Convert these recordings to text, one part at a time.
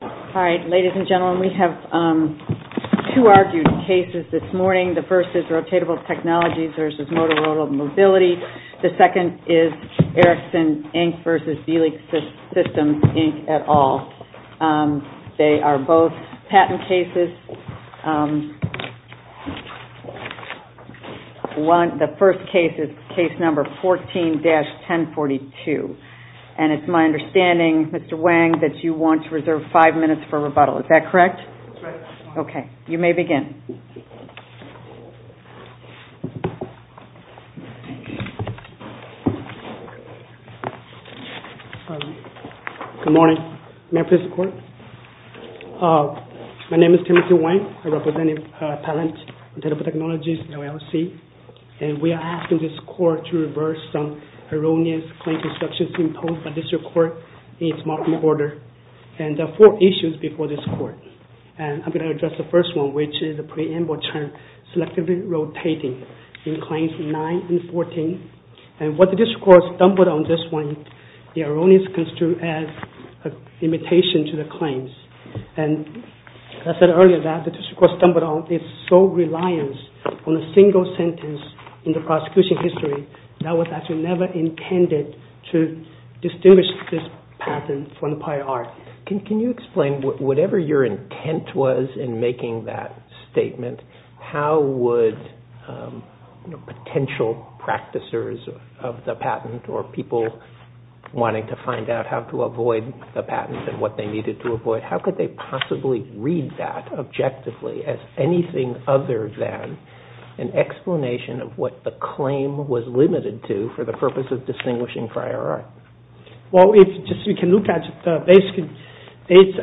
All right, ladies and gentlemen, we have two argued cases this morning. The first is Rotatable Technologies v. Motorola Mobility. The second is Ericsson, Inc. v. Beelink Systems, Inc. et al. They are both patent cases. The first case is case number 14-1042, and it's my understanding, Mr. Wang, that you want to reserve five minutes for rebuttal. Is that correct? Okay, you may begin. Good morning. May I please report? My name is Timothy Wang. I represent a patent, Rotatable Technologies LLC, and we are asking this Court to reverse some erroneous claim constructions imposed by the District Court in its marking order. And there are four issues before this Court, and I'm going to address the first one, which is the preamble term Selectively Rotating in Claims 9 and 14. And what the District Court stumbled on this morning, the erroneous construed as an imitation to the claims. And I said earlier that the District Court stumbled on its sole reliance on a single sentence in the prosecution history that was actually never intended to distinguish this patent from the prior art. Can you explain, whatever your intent was in making that statement, how would potential practicers of the patent or people wanting to find out how to avoid the patent and what they needed to avoid, how could they possibly read that objectively as anything other than an explanation of what the claim was limited to for the purpose of distinguishing prior art? Well, if you can look at basically,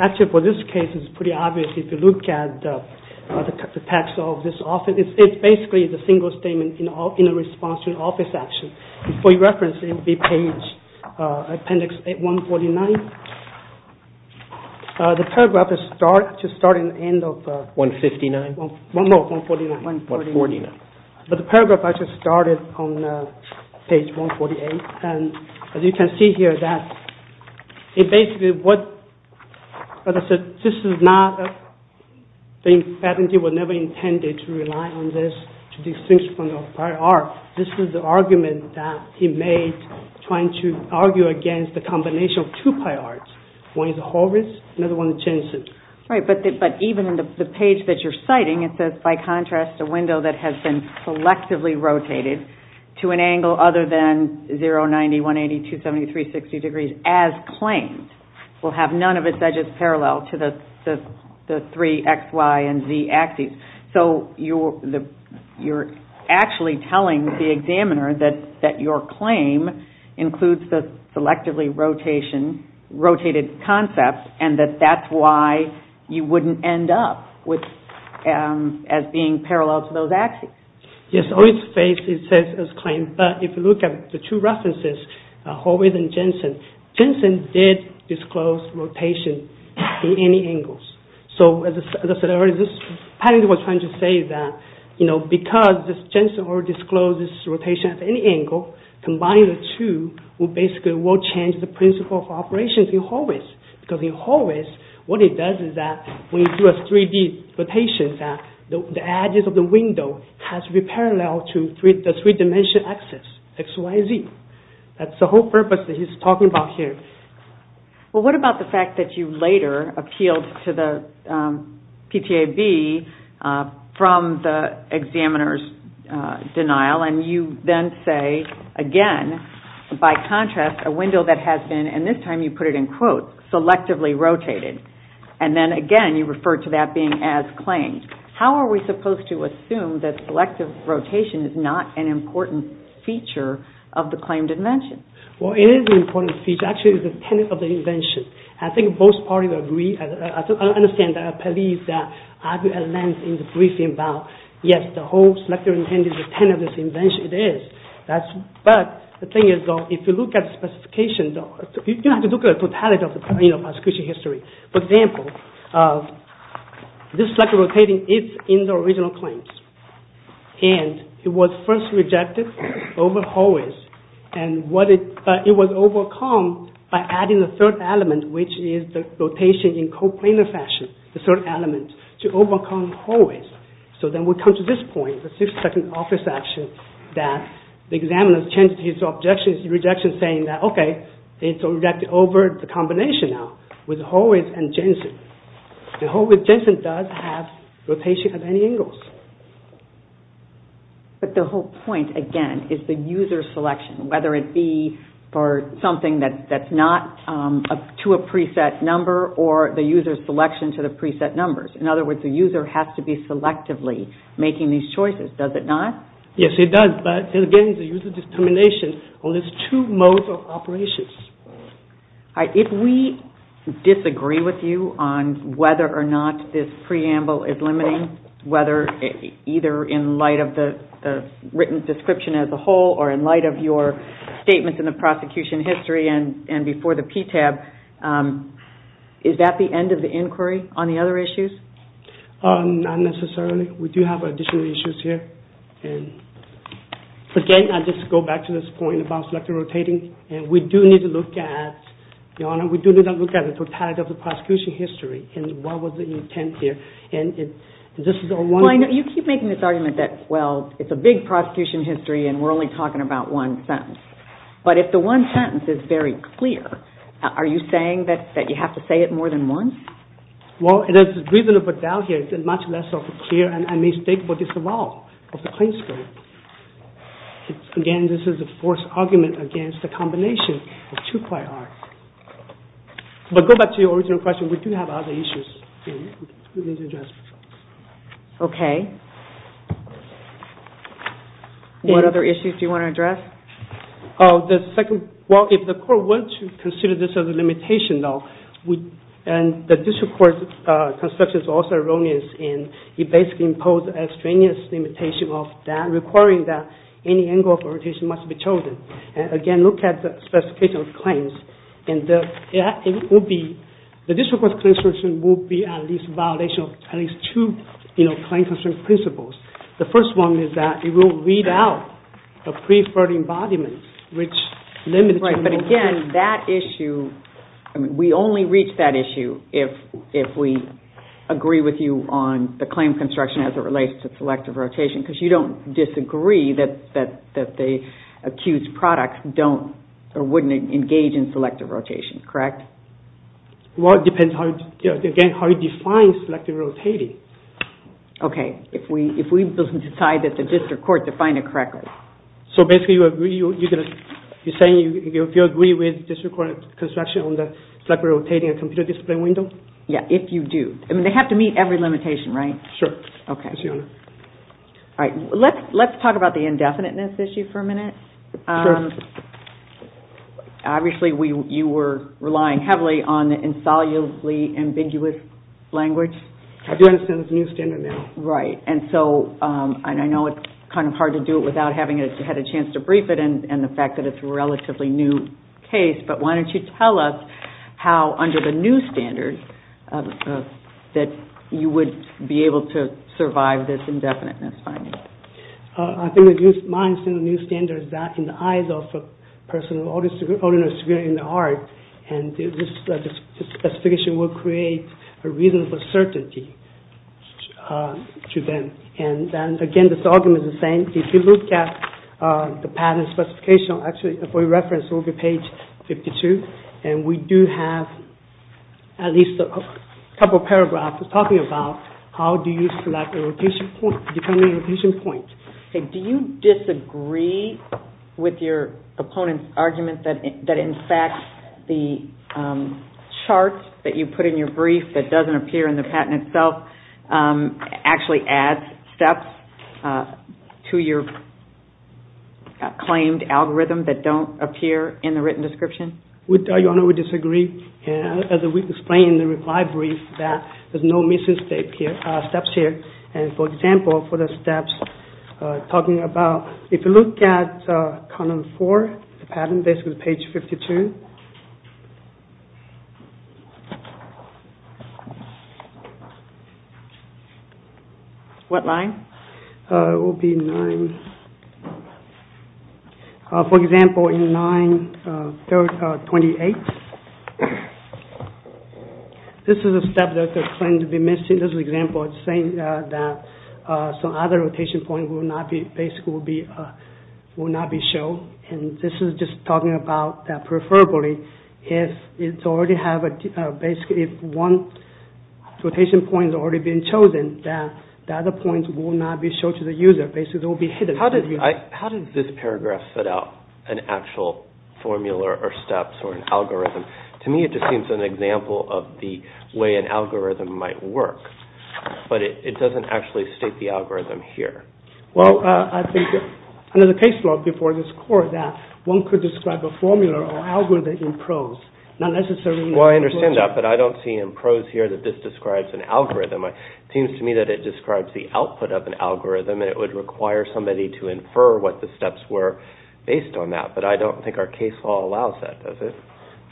actually for this case it's pretty obvious if you look at the text of this office, it's basically the single statement in response to an office action. For your reference, it would be page appendix 149. The paragraph is starting at the end of 149, but the paragraph actually started on page 148. And as you can see here that it basically, like I said, this is not, the patentee was never intended to rely on this to distinguish from the prior art. This is the argument that he made trying to argue against the combination of two prior arts. One is Horvitz, another one is Jensen. Right, but even the page that you're citing, it says, by contrast, a window that has been collectively rotated to an angle other than 0, 90, 180, 270, 360 degrees as claimed, will have none of its edges parallel to the three X, Y, and Z axes. So you're actually telling the examiner that your claim includes the selectively rotated concepts and that that's why you wouldn't end up as being parallel to those axes. Yes, on its face it says as claimed, but if you look at the two references, Horvitz and Jensen, Jensen did disclose rotation to any angles. So as I said earlier, this patentee was trying to say that because Jensen already disclosed this rotation at any angle, combining the two will basically change the principle of operations in Horvitz. Because in Horvitz, what it does is that when you do a 3D rotation, the edges of the window has to be parallel to the three-dimensional axes, X, Y, and Z. That's the whole purpose that he's talking about here. Well, what about the fact that you later appealed to the PTAB from the examiner's denial, and you then say, again, by contrast, a window that has been, and this time you put it in quotes, selectively rotated, and then again you refer to that being as claimed. How are we supposed to assume that selective rotation is not an important feature of the claimed invention? Well, it is an important feature. It's actually the tenet of the invention. I think both parties agree. I understand that Pelleas argued at length in the briefing about, yes, the whole selective intent is the tenet of this invention. It is. But the thing is, if you look at the specifications, you have to look at the totality of the prosecution history. For example, this selective rotating is in the original claims, and it was first rejected over hallways, and it was overcome by adding the third element, which is the rotation in coplanar fashion, the third element, to overcome hallways. So then we come to this point, the 60-second office action, that the examiner changed his objection, saying that, okay, it's rejected over the combination now, with hallways and Jensen. And hallways and Jensen does have rotation at any angles. But the whole point, again, is the user selection, whether it be for something that's not to a preset number, or the user's selection to the preset numbers. In other words, the user has to be selectively making these choices. Does it not? Yes, it does. But again, it's the user's determination on these two modes of operations. If we disagree with you on whether or not this preamble is limiting, whether either in light of the written description as a whole or in light of your statements in the prosecution history and before the PTAB, is that the end of the inquiry on the other issues? Not necessarily. We do have additional issues here. And again, I'll just go back to this point about selective rotating. And we do need to look at, Your Honor, we do need to look at the totality of the prosecution history and what was the intent here. Well, I know you keep making this argument that, well, it's a big prosecution history and we're only talking about one sentence. But if the one sentence is very clear, are you saying that you have to say it more than once? Well, there's a reason for doubt here. It's much less of a clear and a mistake for disavowal of the plain script. Again, this is a forced argument against the combination of two prior arts. But go back to your original question. We do have other issues. Okay. What other issues do you want to address? Well, if the court wants to consider this as a limitation, though, and the district court's construction is also erroneous and it basically imposes a strenuous limitation of that, requiring that any angle of orientation must be chosen. And again, look at the specification of claims. And the district court's claim construction will be at least a violation of at least two claim construction principles. The first one is that it will weed out a preferred embodiment, which limits... Right, but again, that issue, we only reach that issue if we agree with you on the claim construction as it relates to selective rotation, because you don't disagree that the accused product wouldn't engage in selective rotation, correct? Well, it depends, again, how you define selective rotating. Okay. If we decide that the district court defined it correctly. So basically, you're saying if you agree with district court construction on the selective rotating computer display window? Yeah, if you do. I mean, they have to meet every limitation, right? Sure. Okay. All right. Let's talk about the indefiniteness issue for a minute. Sure. Obviously, you were relying heavily on the insolubly ambiguous language. I do understand it's a new standard now. Right. And so, I know it's kind of hard to do it without having had a chance to brief it, and the fact that it's a relatively new case, but why don't you tell us how, under the new standard, that you would be able to survive this indefiniteness finding? I think the new standard is that in the eyes of a person of ordinary security in the heart, and this specification will create a reasonable certainty to them. And, again, this argument is the same. If you look at the patent specification, actually, for your reference, it will be page 52, and we do have at least a couple of paragraphs talking about how do you select a rotating point, depending on the rotation point. Do you disagree with your opponent's argument that, in fact, the chart that you put in your brief that doesn't appear in the patent itself actually adds steps to your claimed algorithm that don't appear in the written description? Your Honor, we disagree. As we explained in the reply brief, there's no missing steps here. And, for example, for the steps talking about, if you look at column 4, the patent, basically page 52. What line? It will be 9. For example, in 9.28, this is a step that they claim to be missing. In this example, it's saying that some other rotation point will not be shown. And this is just talking about that, preferably, if one rotation point has already been chosen, that the other points will not be shown to the user. Basically, they will be hidden. How did this paragraph set out an actual formula or steps or an algorithm? To me, it just seems an example of the way an algorithm might work. But it doesn't actually state the algorithm here. Well, I think under the case law before this court that one could describe a formula or algorithm in prose. Well, I understand that, but I don't see in prose here that this describes an algorithm. It seems to me that it describes the output of an algorithm, and it would require somebody to infer what the steps were based on that. But I don't think our case law allows that, does it?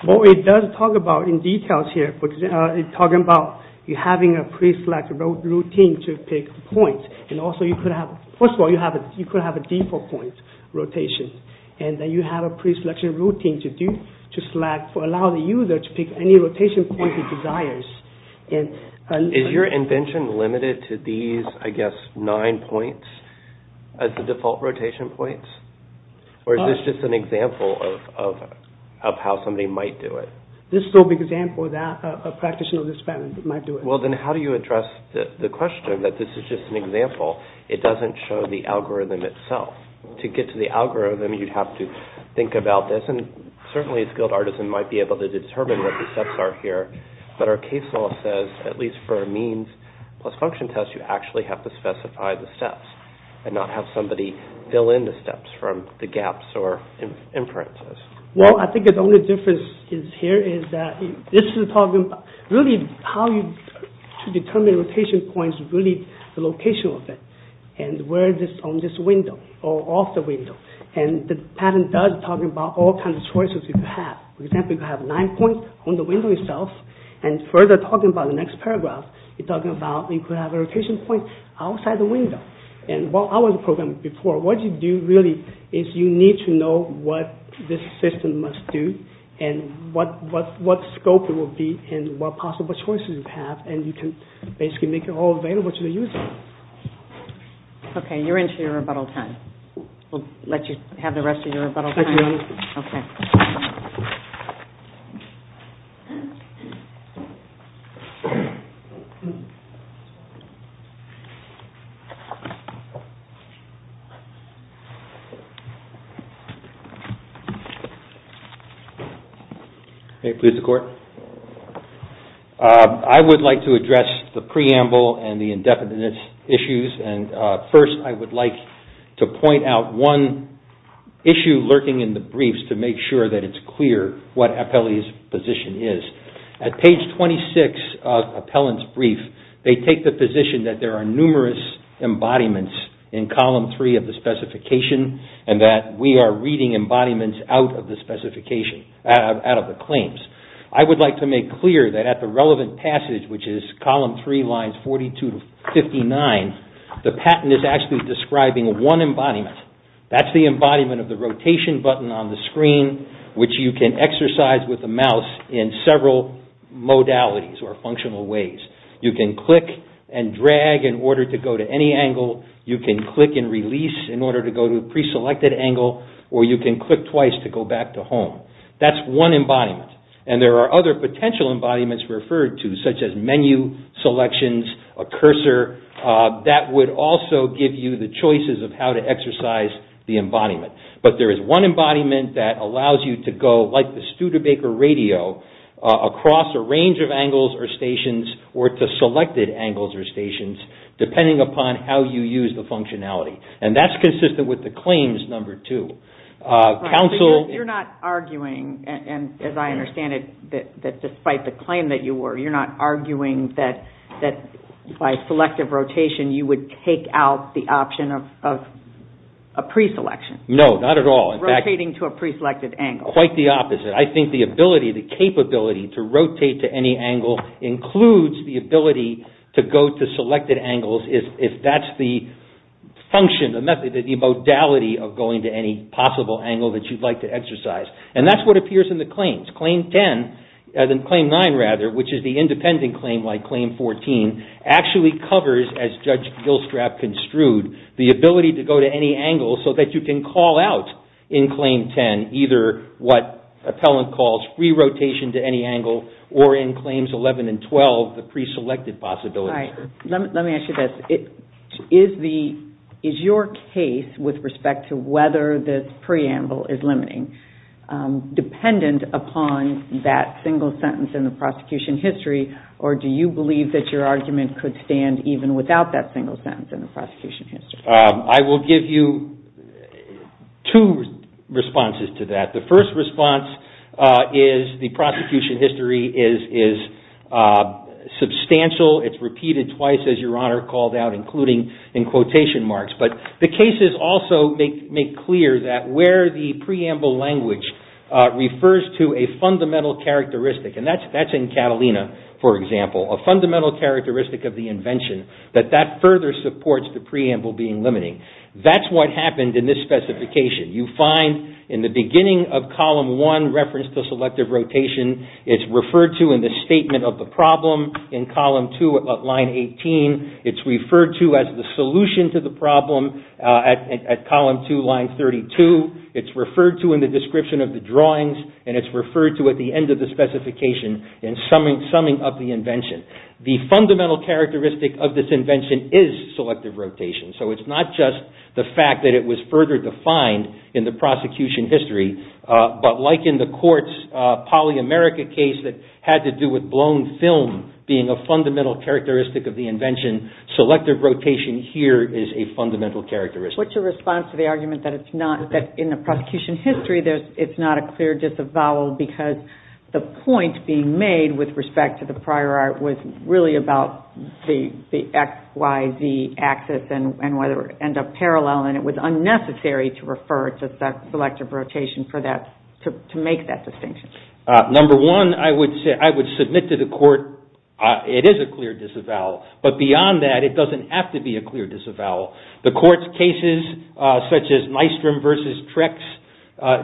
Well, it does talk about in details here. It's talking about you having a pre-selected routine to pick points. And also, first of all, you could have a default point rotation. And then you have a pre-selected routine to allow the user to pick any rotation point he desires. Is your invention limited to these, I guess, nine points as the default rotation points? Or is this just an example of how somebody might do it? This is an example that a practitioner of this kind might do it. Well, then how do you address the question that this is just an example? It doesn't show the algorithm itself. To get to the algorithm, you'd have to think about this. And certainly a skilled artisan might be able to determine what the steps are here. But our case law says, at least for a means plus function test, you actually have to specify the steps and not have somebody fill in the steps from the gaps or inferences. Well, I think the only difference here is that this is talking about really how to determine rotation points, really the location of it, and where it is on this window or off the window. And the pattern does talk about all kinds of choices you could have. For example, you could have nine points on the window itself. And further talking about the next paragraph, you're talking about you could have a rotation point outside the window. And while I was programming before, what you do really is you need to know what this system must do and what scope it will be and what possible choices you have. And you can basically make it all available to the user. Okay. You're into your rebuttal time. We'll let you have the rest of your rebuttal time. Okay. May it please the Court. I would like to address the preamble and the indefinite issues. And first, I would like to point out one issue lurking in the briefs to make sure that it's clear what appellee's position is. At page 26 of appellant's brief, they take the position that there are numerous embodiments in column 3 of the specification and that we are reading embodiments out of the claims. I would like to make clear that at the relevant passage, which is column 3, lines 42 to 59, the patent is actually describing one embodiment. That's the embodiment of the rotation button on the screen, which you can exercise with the mouse in several modalities or functional ways. You can click and drag in order to go to any angle. You can click and release in order to go to a preselected angle. Or you can click twice to go back to home. That's one embodiment. And there are other potential embodiments referred to, such as menu selections, a cursor, that would also give you the choices of how to exercise the embodiment. But there is one embodiment that allows you to go, like the Studebaker radio, across a range of angles or stations or to selected angles or stations, depending upon how you use the functionality. And that's consistent with the claims number 2. You're not arguing, and as I understand it, that despite the claim that you were, you're not arguing that by selective rotation you would take out the option of a preselection. No, not at all. Rotating to a preselected angle. Quite the opposite. I think the ability, the capability to rotate to any angle includes the ability to go to selected angles if that's the function, the method, the modality of going to any possible angle that you'd like to exercise. And that's what appears in the claims. Claim 9, which is the independent claim like Claim 14, actually covers, as Judge Gilstrap construed, the ability to go to any angle so that you can call out in Claim 10 either what appellant calls re-rotation to any angle or in Claims 11 and 12, the preselected possibility. Let me ask you this. Is your case with respect to whether this preamble is limiting dependent upon that single sentence in the prosecution history, or do you believe that your argument could stand even without that single sentence in the prosecution history? I will give you two responses to that. The first response is the prosecution history is substantial. It's repeated twice, as Your Honor called out, including in quotation marks. But the cases also make clear that where the preamble language refers to a fundamental characteristic, and that's in Catalina, for example, a fundamental characteristic of the invention, that that further supports the preamble being limiting. That's what happened in this specification. You find in the beginning of Column 1, reference to selective rotation, it's referred to in the statement of the problem in Column 2 at Line 18, it's referred to as the solution to the problem at Column 2, Line 32, it's referred to in the description of the drawings, and it's referred to at the end of the specification in summing up the invention. The fundamental characteristic of this invention is selective rotation, so it's not just the fact that it was further defined in the prosecution history, but like in the court's polyamerica case that had to do with blown film being a fundamental characteristic of the invention, selective rotation here is a fundamental characteristic. What's your response to the argument that in the prosecution history it's not a clear disavowal because the point being made with respect to the prior art was really about the XYZ axis and the parallel and it was unnecessary to refer to selective rotation to make that distinction. Number one, I would submit to the court it is a clear disavowal, but beyond that it doesn't have to be a clear disavowal. The court's cases, such as Nystrom v. Trex,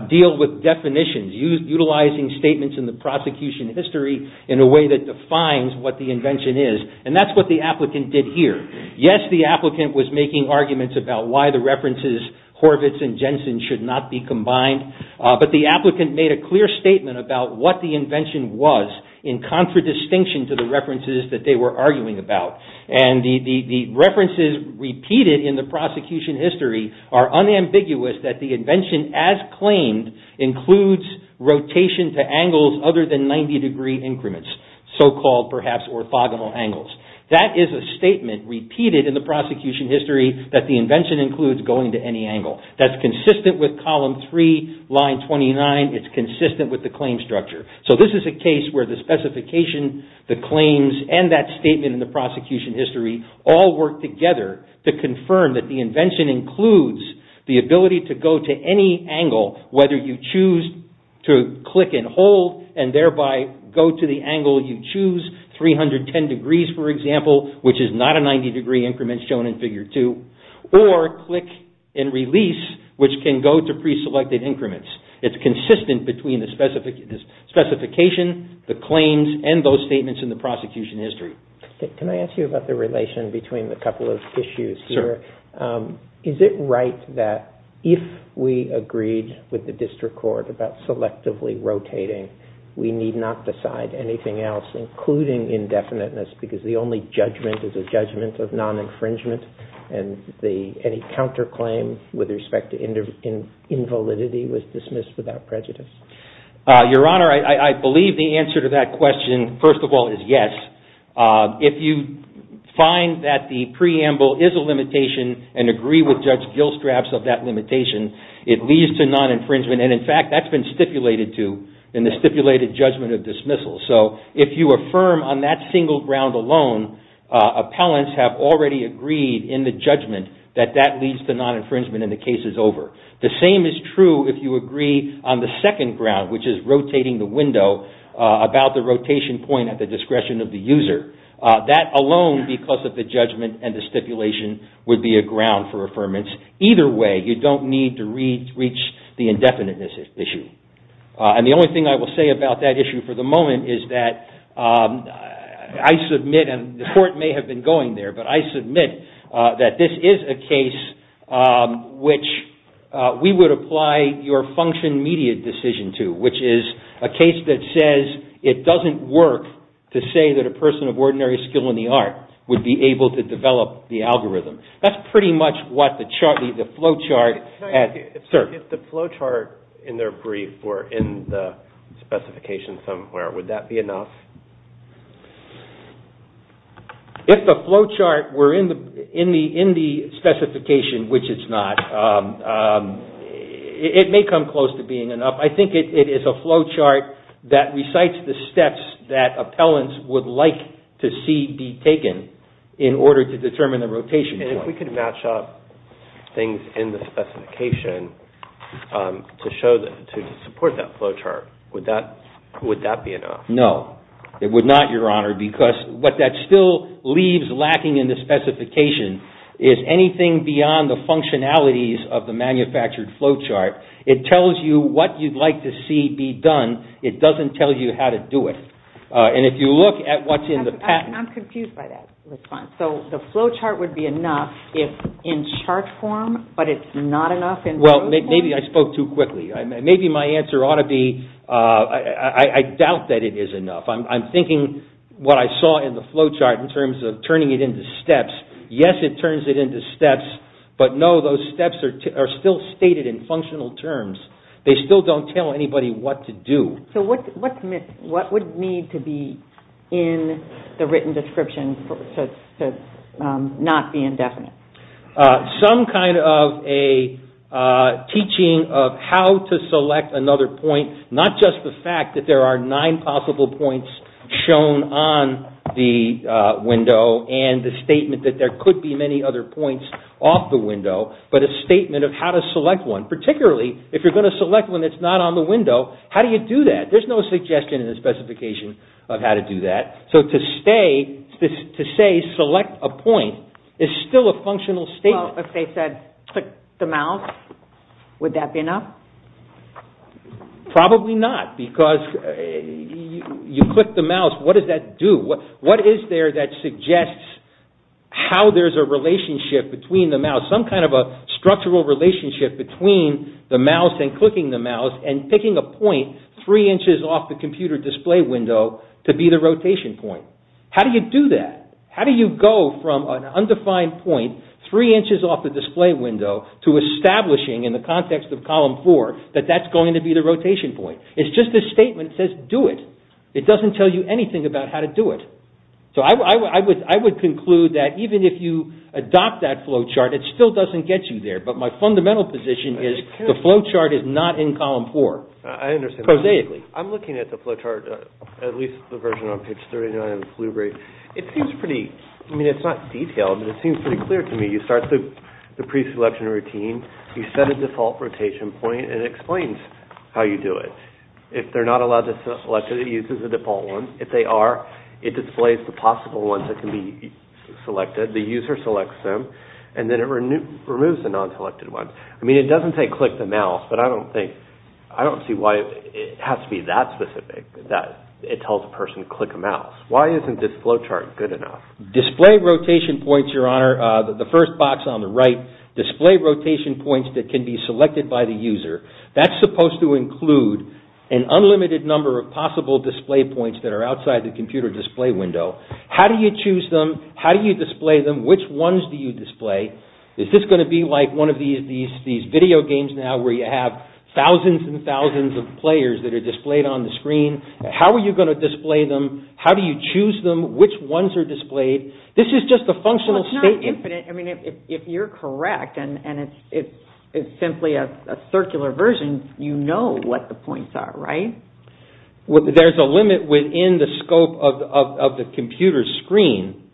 deal with definitions, utilizing statements in the prosecution history in a way that defines what the invention is, and that's what the applicant did here. Yes, the applicant was making arguments about why the references Horvitz and Jensen should not be combined, but the applicant made a clear statement about what the invention was in contradistinction to the references that they were arguing about, and the references repeated in the prosecution history are unambiguous that the invention, as claimed, includes rotation to angles other than 90 degree increments, so-called, perhaps, orthogonal angles. That is a statement repeated in the prosecution history that the invention includes going to any angle. That's consistent with column 3, line 29. It's consistent with the claim structure. So this is a case where the specification, the claims, and that statement in the prosecution history all work together to confirm that the invention includes the ability to go to any angle, whether you choose to click and hold, and thereby go to the angle you choose, 310 degrees, for example, which is not a 90 degree increment shown in figure 2, or click and release, which can go to pre-selected increments. It's consistent between the specification, the claims, and those statements in the prosecution history. Can I ask you about the relation between a couple of issues here? Is it right that if we agreed with the district court about selectively rotating, we need not decide anything else, including indefiniteness, because the only judgment is a judgment of non-infringement, and any counterclaim with respect to invalidity was dismissed without prejudice? Your Honor, I believe the answer to that question, first of all, is yes. If you find that the preamble is a limitation and agree with Judge Gilstraps of that limitation, it leads to non-infringement, and in fact, that's been stipulated to in the stipulated judgment of dismissal. So if you affirm on that single ground alone, appellants have already agreed in the judgment that that leads to non-infringement and the case is over. The same is true if you agree on the second ground, which is rotating the window, about the rotation point at the discretion of the user. That alone, because of the judgment and the stipulation, would be a ground for affirmance. Either way, you don't need to reach the indefiniteness issue. And the only thing I will say about that issue for the moment is that I submit, and the court may have been going there, but I submit that this is a case which we would apply your function media decision to, which is a case that says it doesn't work to say that a person of ordinary skill in the art would be able to develop the algorithm. That's pretty much what the flowchart had observed. If the flowchart in their brief were in the specification somewhere, would that be enough? If the flowchart were in the specification, which it's not, it may come close to being enough. I think it is a flowchart that recites the steps that appellants would like to see be taken in order to determine the rotation point. And if we could match up things in the specification to support that flowchart, would that be enough? No, it would not, Your Honor, because what that still leaves lacking in the specification is anything beyond the functionalities of the manufactured flowchart. It tells you what you'd like to see be done. It doesn't tell you how to do it. And if you look at what's in the patent... I'm confused by that response. So the flowchart would be enough if in chart form, but it's not enough in flowchart? Well, maybe I spoke too quickly. Maybe my answer ought to be I doubt that it is enough. I'm thinking what I saw in the flowchart in terms of turning it into steps. Yes, it turns it into steps, but no, those steps are still stated in functional terms. They still don't tell anybody what to do. So what would need to be in the written description to not be indefinite? Some kind of a teaching of how to select another point, not just the fact that there are nine possible points shown on the window and the statement that there could be many other points off the window, but a statement of how to select one, particularly if you're going to select one that's not on the window. How do you do that? There's no suggestion in the specification of how to do that. So to say select a point is still a functional statement. Well, if they said click the mouse, would that be enough? Probably not, because you click the mouse, what does that do? What is there that suggests how there's a relationship between the mouse, some kind of a structural relationship between the mouse and clicking the mouse and picking a point three inches off the computer display window to be the rotation point? How do you do that? How do you go from an undefined point three inches off the display window to establishing in the context of column four that that's going to be the rotation point? It's just a statement that says do it. It doesn't tell you anything about how to do it. So I would conclude that even if you adopt that flowchart, it still doesn't get you there. But my fundamental position is the flowchart is not in column four. I understand. Prosaically. I'm looking at the flowchart, at least the version on page 39 of the Blueberry. It seems pretty, I mean it's not detailed, but it seems pretty clear to me. You start the pre-selection routine, you set a default rotation point, and it explains how you do it. If they're not allowed to select it, it uses the default one. If they are, it displays the possible ones that can be selected. The user selects them, and then it removes the non-selected ones. I mean it doesn't say click the mouse, but I don't think, I don't see why it has to be that specific that it tells a person to click a mouse. Why isn't this flowchart good enough? Display rotation points, Your Honor, the first box on the right, display rotation points that can be selected by the user, that's supposed to include an unlimited number of possible display points that are outside the computer display window. How do you choose them? How do you display them? Which ones do you display? Is this going to be like one of these video games now where you have thousands and thousands of players that are displayed on the screen? How are you going to display them? How do you choose them? Which ones are displayed? This is just a functional statement. If you're correct, and it's simply a circular version, you know what the points are, right? There's a limit within the scope of the computer screen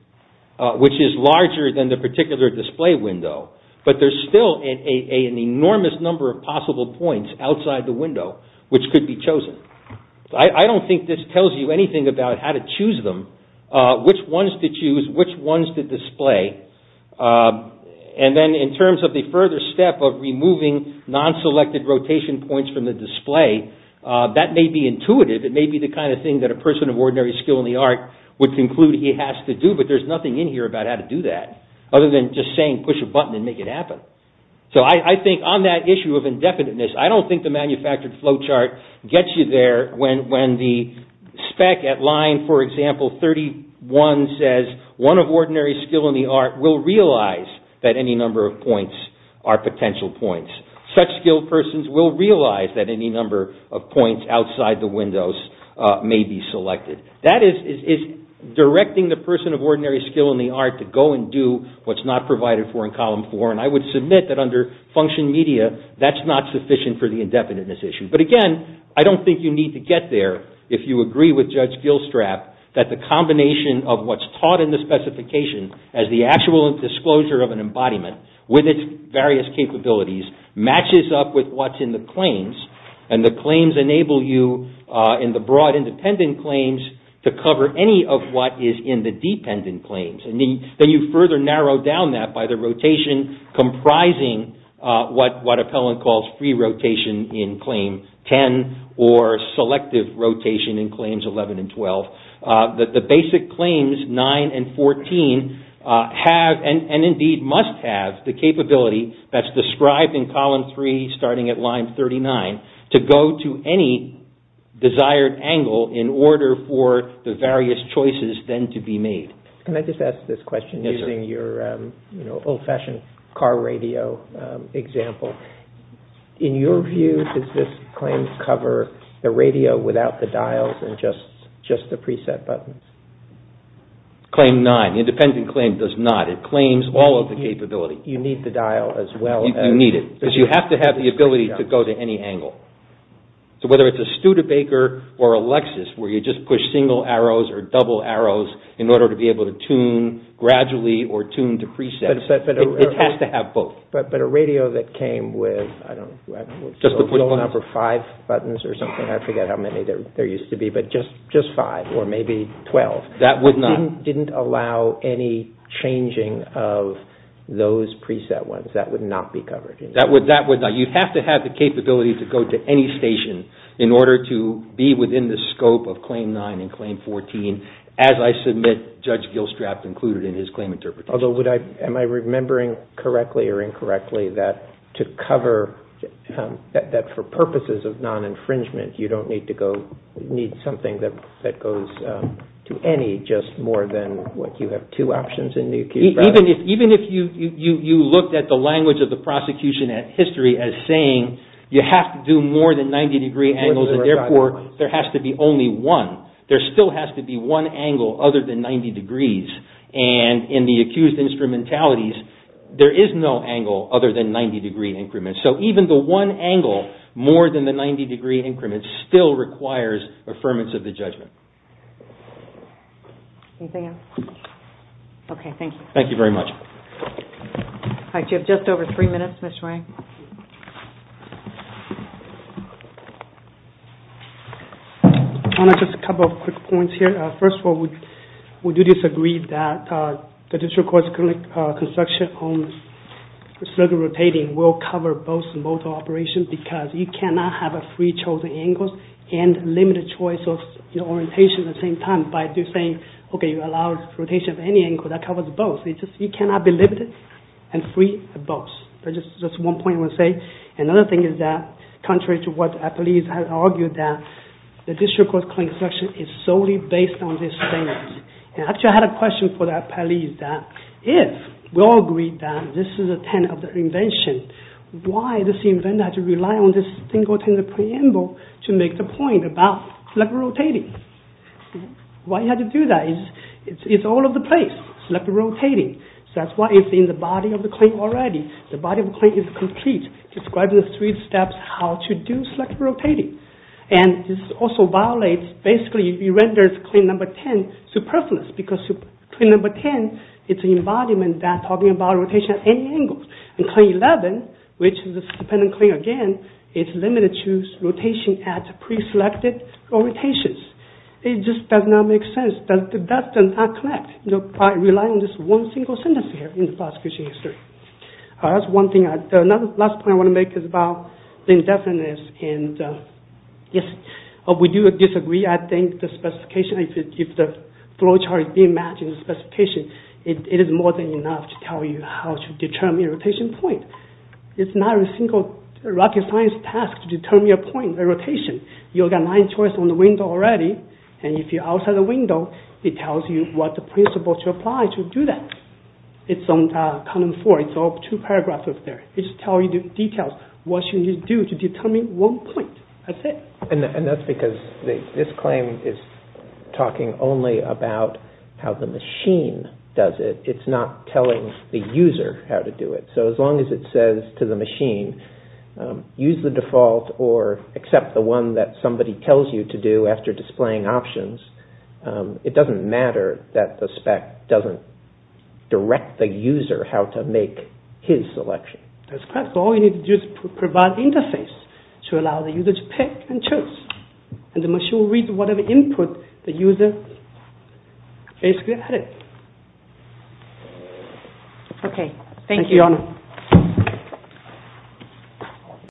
which is larger than the particular display window, but there's still an enormous number of possible points outside the window which could be chosen. I don't think this tells you anything about how to choose them, which ones to choose, which ones to display. And then in terms of the further step of removing non-selected rotation points from the display, that may be intuitive. It may be the kind of thing that a person of ordinary skill in the art would conclude he has to do, but there's nothing in here about how to do that other than just saying push a button and make it happen. So I think on that issue of indefiniteness, I don't think the manufactured flowchart gets you there when the spec at line, for example, 31 says one of ordinary skill in the art will realize that any number of points are potential points. Such skilled persons will realize that any number of points outside the windows may be selected. That is directing the person of ordinary skill in the art to go and do what's not provided for in column four, and I would submit that under function media, that's not sufficient for the indefiniteness issue. But again, I don't think you need to get there if you agree with Judge Gilstrap that the combination of what's taught in the specification as the actual disclosure of an embodiment with its various capabilities matches up with what's in the claims, and the claims enable you in the broad independent claims to cover any of what is in the dependent claims. Then you further narrow down that by the rotation comprising what Appellant calls free rotation in claim 10 or selective rotation in claims 11 and 12, that the basic claims nine and 14 have and indeed must have the capability that's described in column three starting at line 39 to go to any desired angle in order for the various choices then to be made. Can I just ask this question using your old-fashioned car radio example? In your view, does this claim cover the radio without the dials and just the preset buttons? Claim nine, the independent claim does not. It claims all of the capability. You need the dial as well. You need it because you have to have the ability to go to any angle. So whether it's a Studebaker or a Lexus where you just push single arrows or double arrows in order to be able to tune gradually or tune to presets, it has to have both. But a radio that came with, I don't know, just a little number five buttons or something, I forget how many there used to be, but just five or maybe 12. That would not. It didn't allow any changing of those preset ones. That would not be covered. That would not. You have to have the capability to go to any station in order to be within the scope of claim nine and claim 14. As I submit, Judge Gilstrap included in his claim interpretation. Although would I, am I remembering correctly or incorrectly that to cover, that for purposes of non-infringement, you don't need to go, need something that goes to any just more than what you have two options in the case. Even if you looked at the language of the prosecution at history as saying you have to do more than 90 degree angles and therefore there has to be only one. There still has to be one angle other than 90 degrees. And in the accused instrumentalities, there is no angle other than 90 degree increments. So even the one angle more than the 90 degree increments still requires affirmance of the judgment. Anything else? Okay, thank you. Thank you very much. All right, you have just over three minutes, Mr. Wang. Thank you. Just a couple of quick points here. First of all, we do disagree that the district court's construction on circuit rotating will cover both and both operations because you cannot have three chosen angles and limited choice of orientation at the same time by just saying, okay, you allow rotation of any angle that covers both. You cannot be limited and free of both. That's just one point I want to say. Another thing is that contrary to what the appellees have argued that the district court's claim section is solely based on this statement. And actually I had a question for the appellees that if we all agree that this is a tenet of the invention, why does the inventor have to rely on this thing within the preamble to make the point about selector rotating? Why he had to do that? It's all over the place, selector rotating. So that's why it's in the body of the claim already. The body of the claim is complete. It describes in three steps how to do selector rotating. And this also violates, basically it renders claim number 10 superfluous because claim number 10 is an embodiment that's talking about rotation at any angle. And claim 11, which is a dependent claim again, is limited to rotation at preselected orientations. It just does not make sense. That does not connect by relying on this one single sentence here in the prosecution history. That's one thing. The last point I want to make is about the indefiniteness. And yes, we do disagree. I think the specification, if the flowchart is being matched in the specification, it is more than enough to tell you how to determine the rotation point. It's not a single rocket science task to determine your point or rotation. You've got line choice on the window already. And if you're outside the window, it tells you what the principle to apply to do that. It's on column 4. It's all two paragraphs up there. It just tells you the details, what you need to do to determine one point. That's it. And that's because this claim is talking only about how the machine does it. It's not telling the user how to do it. So as long as it says to the machine, use the default or accept the one that somebody tells you to do after displaying options, it doesn't matter that the spec doesn't direct the user how to make his selection. That's correct. All you need to do is provide interface to allow the user to pick and choose. And the machine will read whatever input the user Okay. Thank you. Thank you, Your Honor.